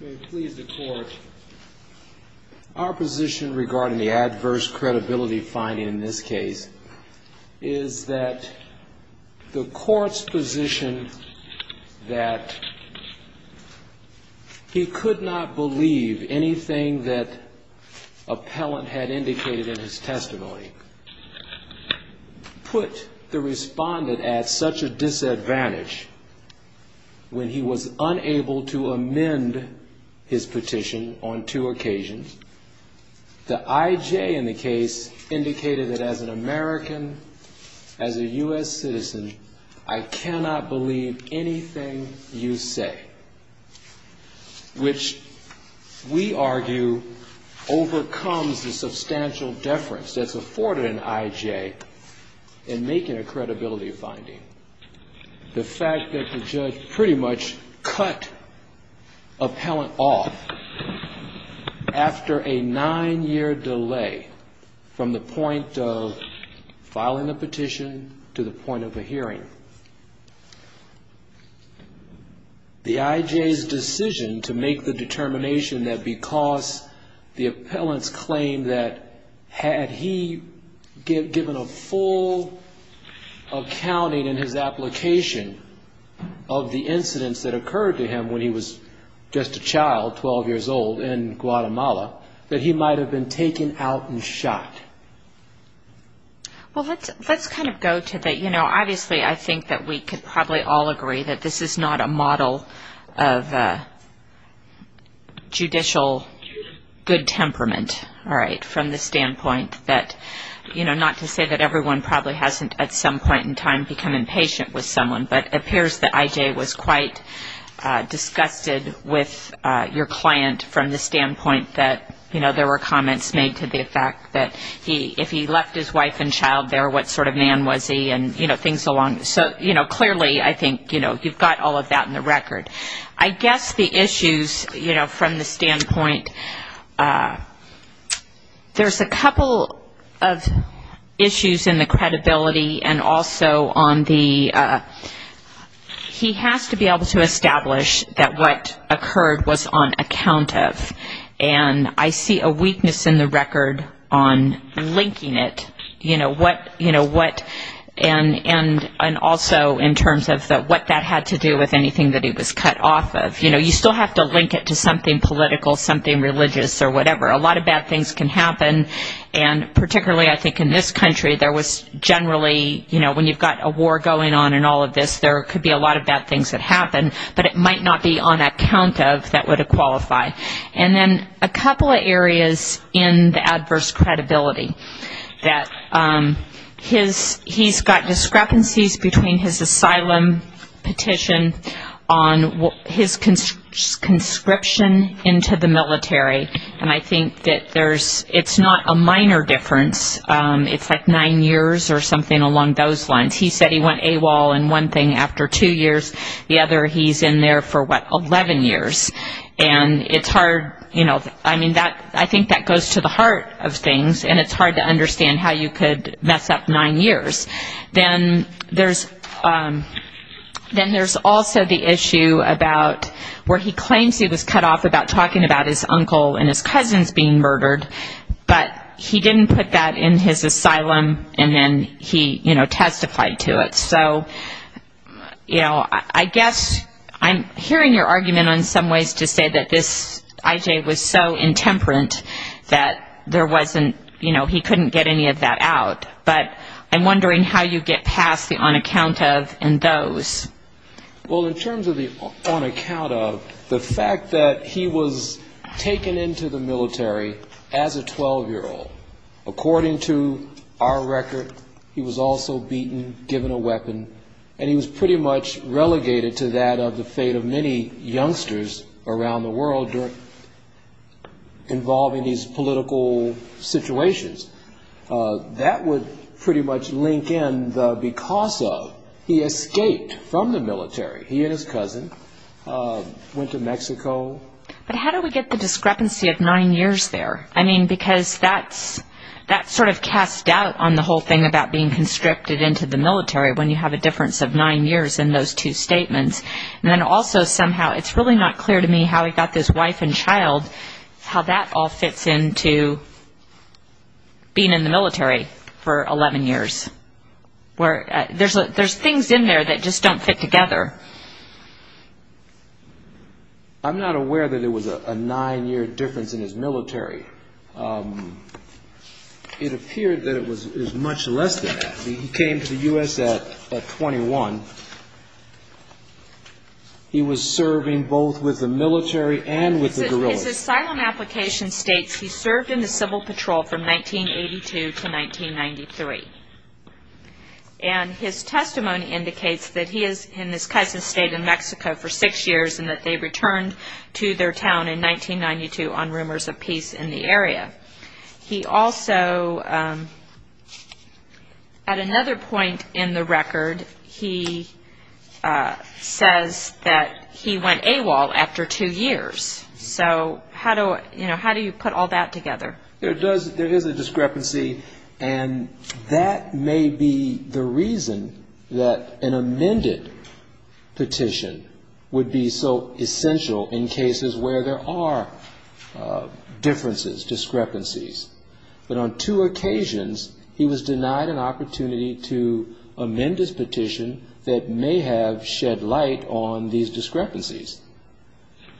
May it please the Court, our position regarding the adverse credibility finding in this case is that the Court's position that he could not believe anything that appellant had indicated in his testimony put the respondent at such a disadvantage when he was unable to amend his petition on two occasions. The I.J. in the case indicated that as an American, as a U.S. citizen, I cannot believe anything you say, which we argue overcomes the substantial deference that's afforded an I.J. in making a credibility finding. The fact that the judge pretty much cut appellant off after a nine-year delay from the point of filing a petition to the point of a hearing. The I.J.'s decision to make the determination that because the appellant's claim that had he given a full accounting in his application of the incidents that occurred to him when he was just a child, 12 years old, in Guatemala, that he might have been taken out and shot. Well, let's kind of go to the, you know, obviously I think that we could probably all agree that this is not a model of judicial good temperament, all right, from the standpoint that, you know, not to say that everyone probably hasn't at some point in time become impatient with someone, but it appears that I.J. was quite disgusted with your client from the standpoint that, you know, there were comments made to the effect that, you know, he's not a good judge. If he left his wife and child there, what sort of man was he and, you know, things along, so, you know, clearly I think, you know, you've got all of that in the record. I guess the issues, you know, from the standpoint, there's a couple of issues in the credibility and also on the, he has to be able to establish that what occurred was on account of, and I see a weakness in the record on linking it, you know, what, you know, what, and also in terms of what that had to do with anything that he was covering. You know, you still have to link it to something political, something religious or whatever. A lot of bad things can happen, and particularly I think in this country there was generally, you know, when you've got a war going on and all of this, there could be a lot of bad things that happen, but it might not be on account of that would it qualify. And then a couple of areas in the adverse credibility that his, he's got discrepancies between his asylum petition on his conscription into the military, and I think that there's, it's not a minor difference, it's like nine years or something along those lines. He said he went AWOL and one thing after two years, the other he's in there for, what, 11 years, and it's hard, you know, I mean, that, I think that goes to the heart of things, and it's hard to understand how you could mess up nine years. Then there's also the issue about where he claims he was cut off about talking about his uncle and his cousins being murdered, but he didn't put that in his asylum and then he, you know, testified to it. So, you know, I guess I'm hearing your argument on some ways to say that this I.J. was so intemperate that there wasn't, you know, he couldn't get any of that out, but I'm wondering how you get past the on account of and those. Well, in terms of the on account of the fact that he was taken into the military as a 12-year-old, according to our record, he was also beaten, given a weapon, and he was pretty much relegated to that of the fate of many youngsters around the world during, involving these political situations. That would pretty much link in the because of he escaped from the military. He and his cousin went to Mexico. But how do we get the discrepancy of nine years there? I mean, because that's sort of cast doubt on the whole thing about being constricted into the military when you have a difference of nine years in those two statements. And then also somehow it's really not clear to me how he got this wife and child, how that all fits into being in the military for 11 years, where there's things in there that just don't fit together. I'm not aware that it was a nine-year difference in his military. It appeared that it was much less than that. He came to the U.S. at 21. He was serving both with the military and with the guerrillas. His asylum application states he served in the Civil Patrol from 1982 to 1993. And his testimony indicates that he is in his cousin's state in Mexico for six years and that they returned to their town in 1992 on rumors of peace in the area. He also, at another point in the record, he says that he went AWOL after two years. So how do you put all that together? There is a discrepancy, and that may be the reason that an amended petition would be so essential in cases where there are differences, discrepancies. But on two occasions, he was denied an opportunity to amend his petition that may have shed light on these discrepancies.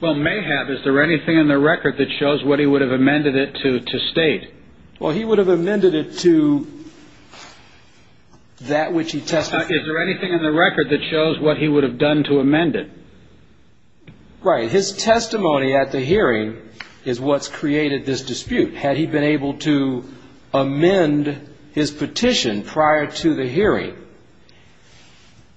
Well, may have. Is there anything in the record that shows what he would have amended it to state? Well, he would have amended it to that which he testified. Is there anything in the record that shows what he would have done to amend it? Right. His testimony at the hearing is what's created this dispute. Had he been able to amend his petition prior to the hearing,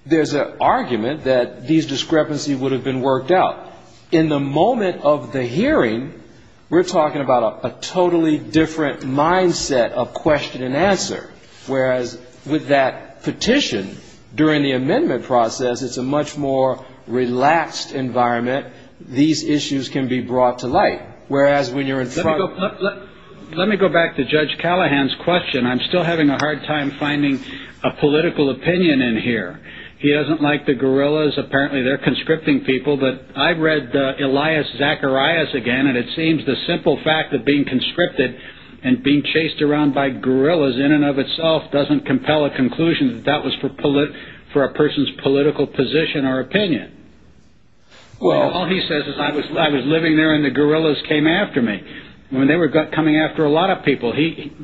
there's an argument that these discrepancies would have been worked out. In the moment of the hearing, we're talking about a totally different mindset of question and answer. Whereas with that petition, during the amendment process, it's a much more relaxed environment. These issues can be brought to light. Let me go back to Judge Callahan's question. I'm still having a hard time finding a political opinion in here. He doesn't like the guerrillas. Apparently, they're conscripting people. I've read Elias Zacharias again. It seems the simple fact of being conscripted and being chased around by guerrillas in and of itself doesn't compel a conclusion that that was for a person's political position or opinion. All he says is, I was living there and the guerrillas came after me. They were coming after a lot of people.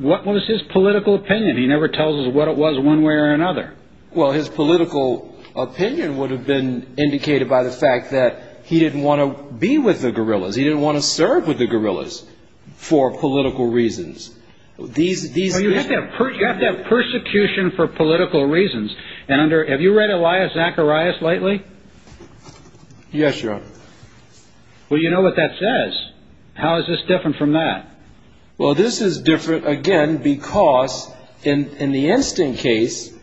What was his political opinion? He never tells us what it was one way or another. Well, his political opinion would have been indicated by the fact that he didn't want to be with the guerrillas. He didn't want to serve with the guerrillas for political reasons. You have to have persecution for political reasons. Have you read Elias Zacharias lately? Yes, Your Honor. Well, you know what that says. How is this different from that? Well, this is different, again, because in the instant case,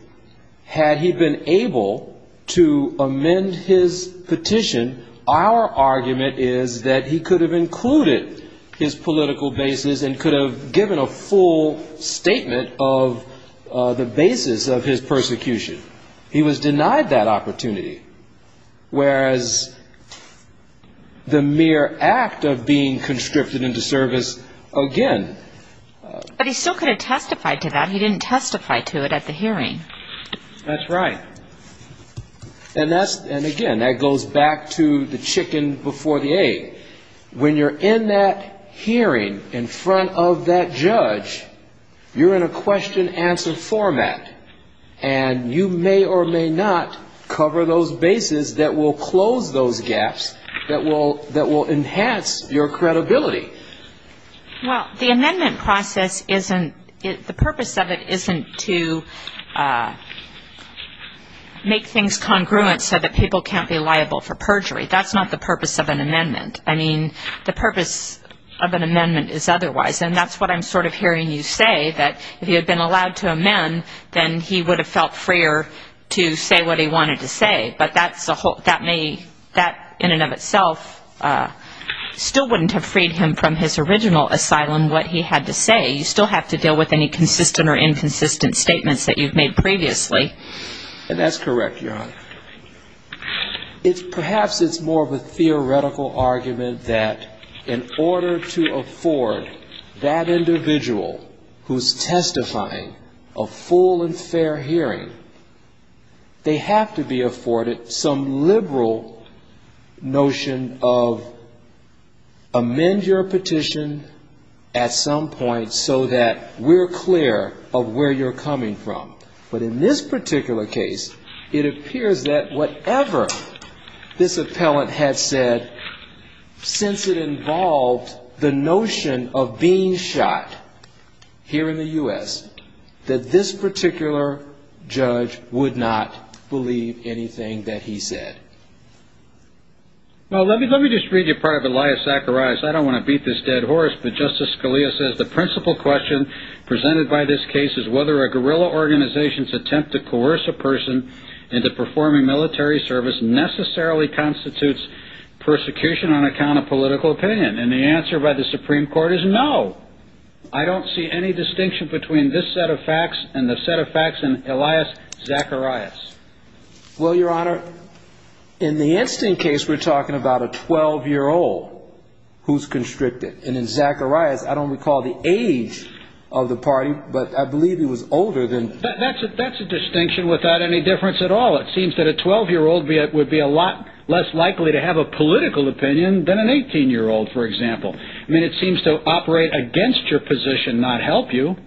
had he been able to amend his petition, our argument is that he could have included his political basis and could have given a full statement of the basis of his persecution. He was denied that opportunity. Whereas the mere act of being conscripted into service, again... But he still could have testified to that. He didn't testify to it at the hearing. That's right. And again, that goes back to the chicken before the egg. When you're in that hearing in front of that judge, you're in a question-answer format. And you may or may not cover those bases that will close those gaps, that will enhance your credibility. Well, the amendment process isn't... The purpose of it isn't to make things congruent so that people can't be liable for perjury. That's not the purpose of an amendment. I mean, the purpose of an amendment is otherwise. And that's what I'm sort of hearing you say, that if he had been allowed to amend, then he would have felt freer to say what he wanted to say. But that in and of itself still wouldn't have freed him from his original asylum, what he had to say. You still have to deal with any consistent or inconsistent statements that you've made previously. That's correct, Your Honor. Perhaps it's more of a theoretical argument that in order to afford that individual who's testifying a full and fair hearing, they have to be afforded some liberal notion of amend your petition at some point so that we're clear of where you're coming from. But in this particular case, it appears that whatever this appellant had said, since it involved the notion of being shot here in the U.S., that this particular judge would not believe anything that he said. Well, let me just read you part of Elias Zacharias. I don't want to beat this dead horse. But Justice Scalia says the principal question presented by this case is whether a guerrilla organization's attempt to coerce a person into performing military service necessarily constitutes persecution on account of political opinion. And the answer by the Supreme Court is no. I don't see any distinction between this set of facts and the set of facts in Elias Zacharias. Well, Your Honor, in the instant case, we're talking about a 12-year-old who's constricted. And in Zacharias, I don't recall the age of the party, but I believe he was older than... That's a distinction without any difference at all. It seems that a 12-year-old would be a lot less likely to have a political opinion than an 18-year-old, for example. I mean, it seems to operate against your position, not help you.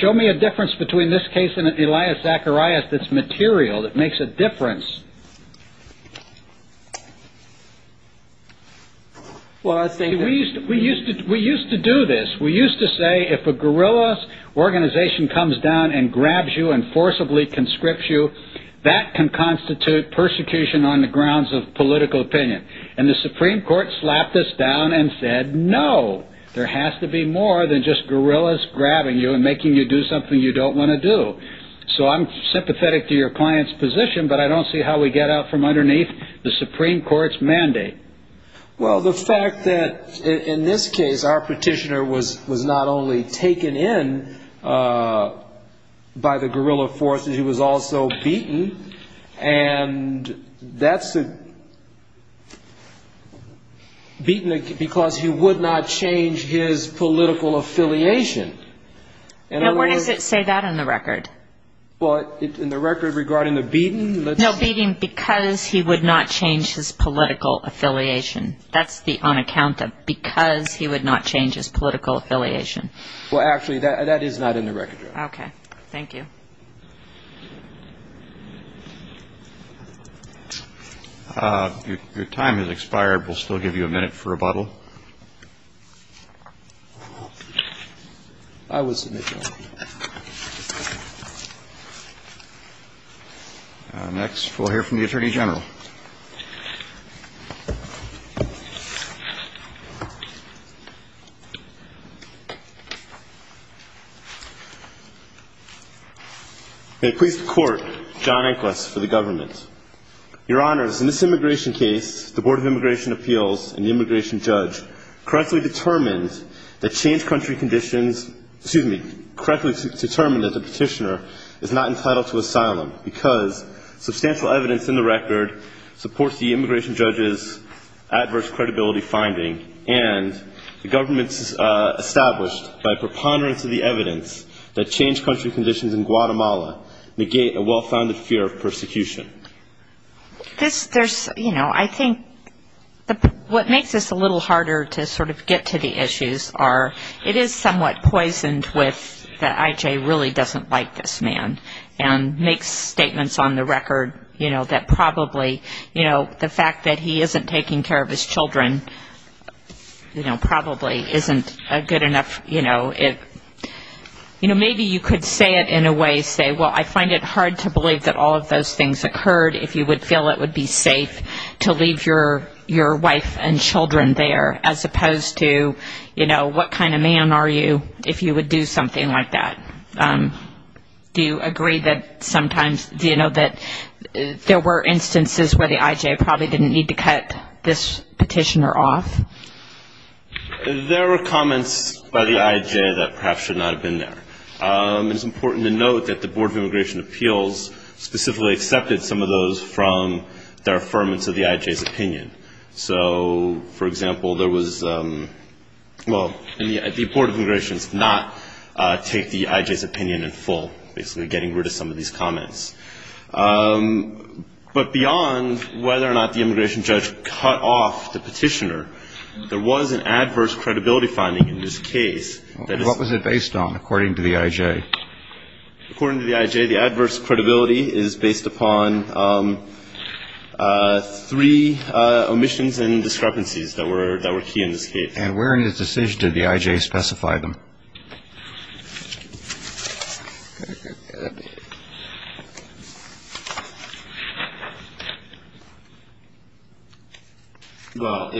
Show me a difference between this case and Elias Zacharias that's material, that makes a difference. We used to do this. We used to say if a guerrilla organization comes down and grabs you and forcibly conscripts you, that can constitute persecution on the grounds of political opinion. And the Supreme Court slapped us down and said no. There has to be more than just guerrillas grabbing you and making you do something you don't want to do. So I'm sympathetic to your client's position, but I don't see how we get out from underneath the Supreme Court's mandate. Well, the fact that in this case, our petitioner was not only taken in by the guerrilla forces, he was also beaten. And that's a beaten because he would not change his political affiliation. Now, where does it say that on the record? Well, in the record regarding the beaten. No, beating because he would not change his political affiliation. That's the on account of because he would not change his political affiliation. Well, actually, that is not in the record. Okay, thank you. Your time has expired. We'll still give you a minute for rebuttal. I would submit no. Next, we'll hear from the Attorney General. May it please the Court, John Inglis for the government. Your Honors, in this immigration case, the Board of Immigration Appeals and the immigration judge correctly determined that changed country conditions, excuse me, correctly determined that the petitioner is not entitled to asylum because substantial evidence in the record supports the immigration judge's adverse credibility finding and the government's established by preponderance of the evidence that changed country conditions in Guatemala negate a well-founded fear of persecution. This, there's, you know, I think what makes this a little harder to sort of get to the issues are it is somewhat poisoned with that I.J. really doesn't like this man and makes statements on the record, you know, that probably, you know, the fact that he isn't taking care of his children, you know, probably isn't a good enough, you know, maybe you could say it in a way, say, well, I find it hard to believe that all of those things occurred if you would feel it would be safe to leave your wife and children there as opposed to, you know, what kind of man are you if you would do something like that. Do you agree that sometimes, you know, that there were instances where the I.J. probably didn't need to cut this petitioner off? There were comments by the I.J. that perhaps should not have been there. It's important to note that the Board of Immigration Appeals specifically accepted some of those from their affirmance of the I.J.'s opinion. So, for example, there was, well, the Board of Immigration did not take the I.J.'s opinion in full, basically getting rid of some of these comments. But beyond whether or not the immigration judge cut off the petitioner, there was an adverse credibility finding in this case. What was it based on, according to the I.J.? According to the I.J., the adverse credibility is based upon three omissions and discrepancies that were key in this case. And where in his decision did the I.J. specify them? Well,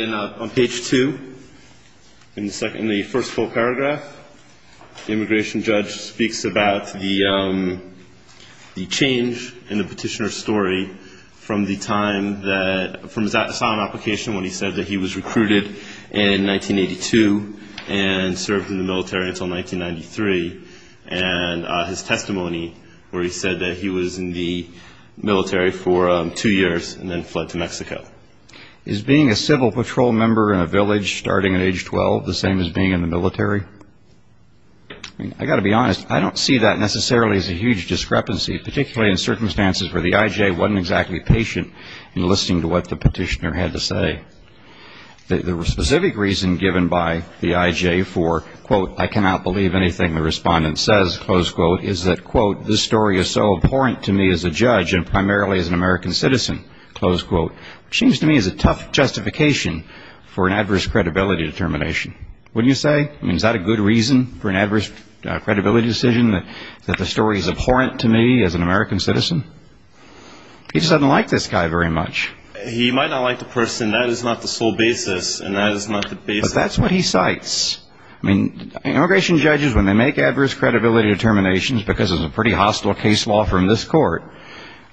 on page two, in the first full paragraph, the immigration judge speaks about the change in the petitioner's story from the time that, from his asylum application when he said that he was recruited in 1982 and served in the military until 1982. And then in 1993, and his testimony where he said that he was in the military for two years and then fled to Mexico. Is being a civil patrol member in a village starting at age 12 the same as being in the military? I've got to be honest, I don't see that necessarily as a huge discrepancy, particularly in circumstances where the I.J. wasn't exactly patient in listening to what the petitioner had to say. The specific reason given by the I.J. for, quote, I cannot believe anything the respondent says, close quote, is that, quote, this story is so abhorrent to me as a judge and primarily as an American citizen, close quote, which seems to me is a tough justification for an adverse credibility determination. Wouldn't you say? I mean, is that a good reason for an adverse credibility decision, that the story is abhorrent to me as an American citizen? He just doesn't like this guy very much. He might not like the person. That is not the sole basis. And that is not the basis. But that's what he cites. I mean, immigration judges, when they make adverse credibility determinations, because it's a pretty hostile case law from this court,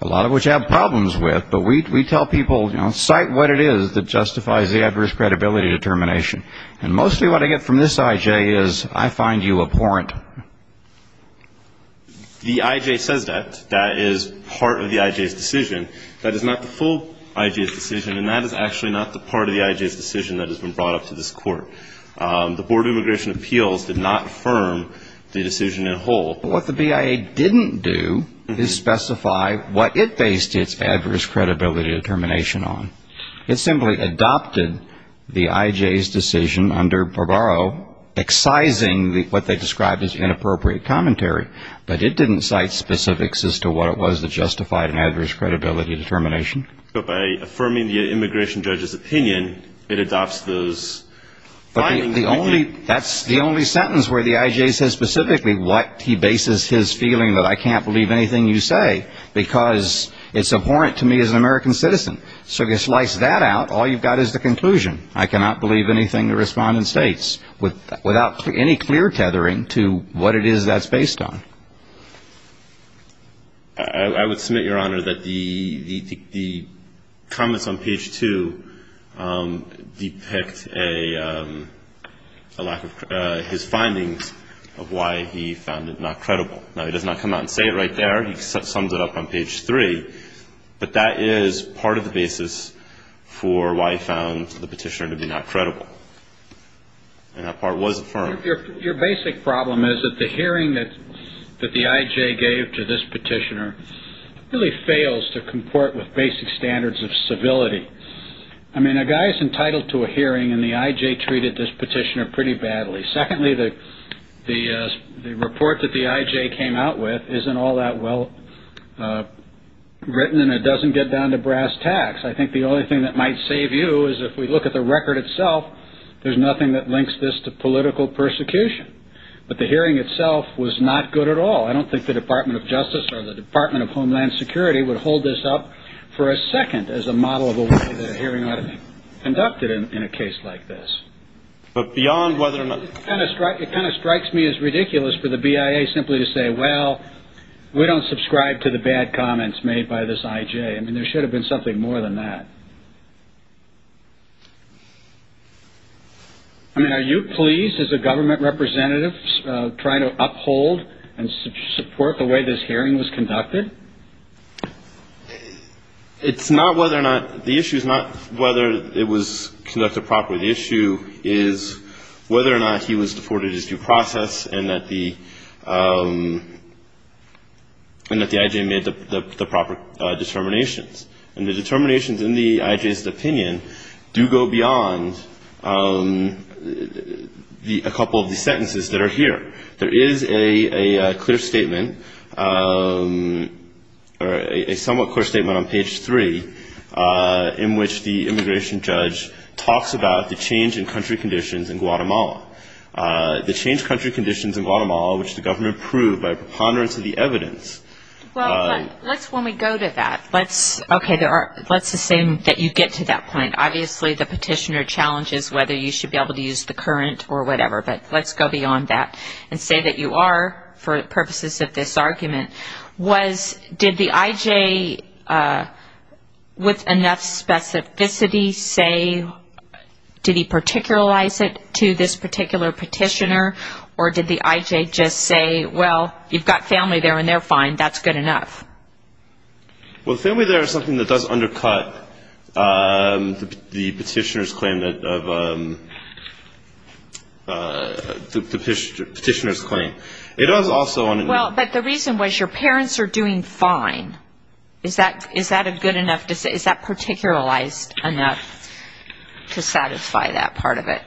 a lot of which I have problems with, but we tell people, you know, cite what it is that justifies the adverse credibility determination. And mostly what I get from this I.J. is I find you abhorrent. That is not the part of the I.J.'s decision. That is not the full I.J.'s decision. And that is actually not the part of the I.J.'s decision that has been brought up to this court. The Board of Immigration Appeals did not affirm the decision in whole. What the BIA didn't do is specify what it based its adverse credibility determination on. It simply adopted the I.J.'s decision under Barbaro, excising what they described as inappropriate commentary. But it didn't cite specifics as to what it was that justified an adverse credibility determination. But by affirming the immigration judge's opinion, it adopts those findings. But the only, that's the only sentence where the I.J. says specifically what he bases his feeling that I can't believe anything you say, because it's abhorrent to me as an American citizen. So you slice that out, all you've got is the conclusion. I cannot believe anything the respondent states, without any clear tethering to what it is that's based on. I would submit, Your Honor, that the comments on page 2 depict a lack of, his findings of why he found it not credible. Now, he does not come out and say it right there. He sums it up on page 3. But that is part of the basis for why he found the petitioner to be not credible. And that part was affirmed. Your basic problem is that the hearing that the I.J. gave to this petitioner really fails to comport with basic standards of civility. I mean, a guy is entitled to a hearing, and the I.J. treated this petitioner pretty badly. Secondly, the report that the I.J. came out with isn't all that well written, and it doesn't get down to brass tacks. I think the only thing that might save you is if we look at the record itself, there's nothing that links this to political persecution. But the hearing itself was not good at all. I don't think the Department of Justice or the Department of Homeland Security would hold this up for a second as a model of a way that a hearing ought to be conducted in a case like this. It kind of strikes me as ridiculous for the BIA simply to say, well, we don't subscribe to the bad comments made by this I.J. I mean, there should have been something more than that. I mean, are you pleased, as a government representative, trying to uphold and support the way this hearing was conducted? It's not whether or not the issue is not whether it was conducted properly. The issue is whether or not he was afforded his due process and that the I.J. made the proper determinations. And the determinations in the I.J.'s opinion do go beyond a couple of the sentences that are here. There is a clear statement, or a somewhat clear statement on page three, in which the immigration judge talks about the change in country conditions in Guatemala. The changed country conditions in Guatemala, which the government proved by preponderance of the changes in country conditions in Guatemala, are not the same as the changes in country conditions in Guatemala. And so, okay, let's assume that you get to that point. Obviously, the petitioner challenges whether you should be able to use the current or whatever. But let's go beyond that and say that you are, for purposes of this argument, was did the I.J. with enough specificity say, did he have enough specificity to satisfy that part of it?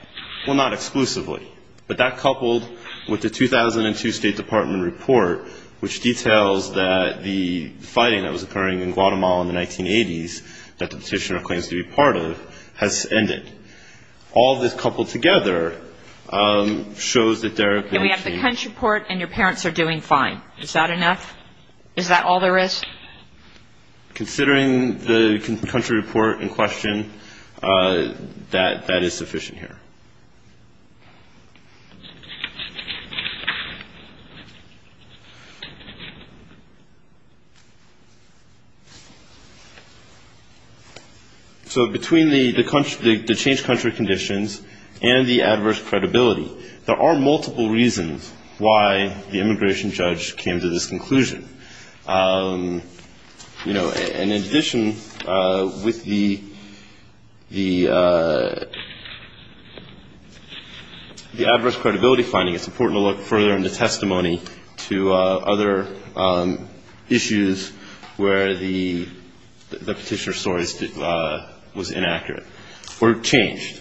Well, not exclusively. But that coupled with the 2002 State Department report, which details that the fighting that was occurring in Guatemala in the 1980s, and that the I.J. did not have enough specificity to satisfy that part of it. And so, let's assume that you are, for purposes of this argument, was did the I.J. with enough specificity say, did he have enough specificity to satisfy that part of it? Well, not exclusively. But that coupled with the 2002 State Department report, which details that the fighting that was occurring in Guatemala in the 1980s, and that the petitioner claims to be part of, has ended. So between the change country conditions and the adverse credibility, there are multiple reasons why the immigration judge came to this conclusion. And in addition, with the adverse credibility finding, it's important to look further in the testimony to other issues where the petitioner's story was inaccurate or changed.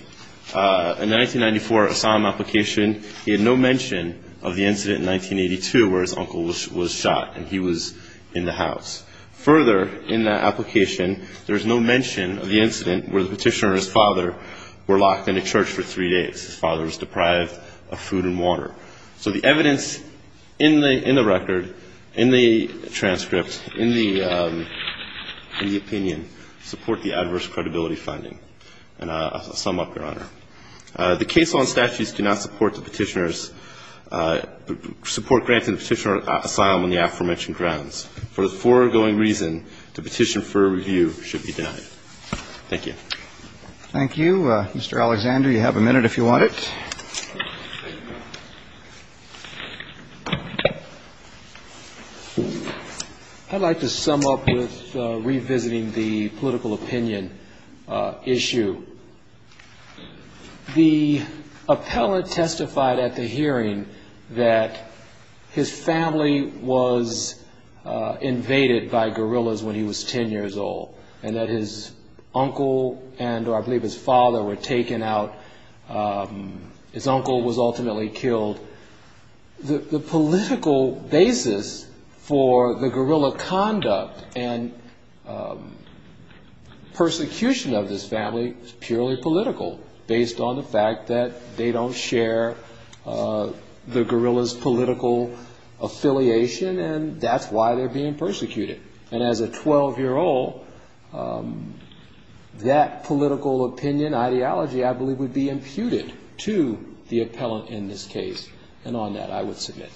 In the 1994 Assam application, he had no mention of the incident in 1982 where his uncle was shot and he was in the house. Further, in that application, there's no mention of the incident where the petitioner and his father were locked in a church for three days. His father was deprived of food and water. So the evidence in the record, in the transcript, in the opinion, support the adverse credibility finding. And I'll sum up, Your Honor. The case law and statutes do not support the petitioner's, support granting the petitioner asylum on the aforementioned grounds. For the foregoing reason, the petition for review should be denied. Thank you. Thank you. Mr. Alexander, you have a minute if you want it. I'd like to sum up with revisiting the political opinion issue. The appellate testified at the hearing that his family was invaded by guerrillas when he was 10 years old, and that his family and his uncle and I believe his father were taken out. His uncle was ultimately killed. The political basis for the guerrilla conduct and persecution of this family is purely political, based on the fact that they don't share the guerrilla's political affiliation, and that's why they're being persecuted. And as a 12-year-old, that political opinion, ideology, I believe, would be imputed to the appellate in this case. And on that, I would submit.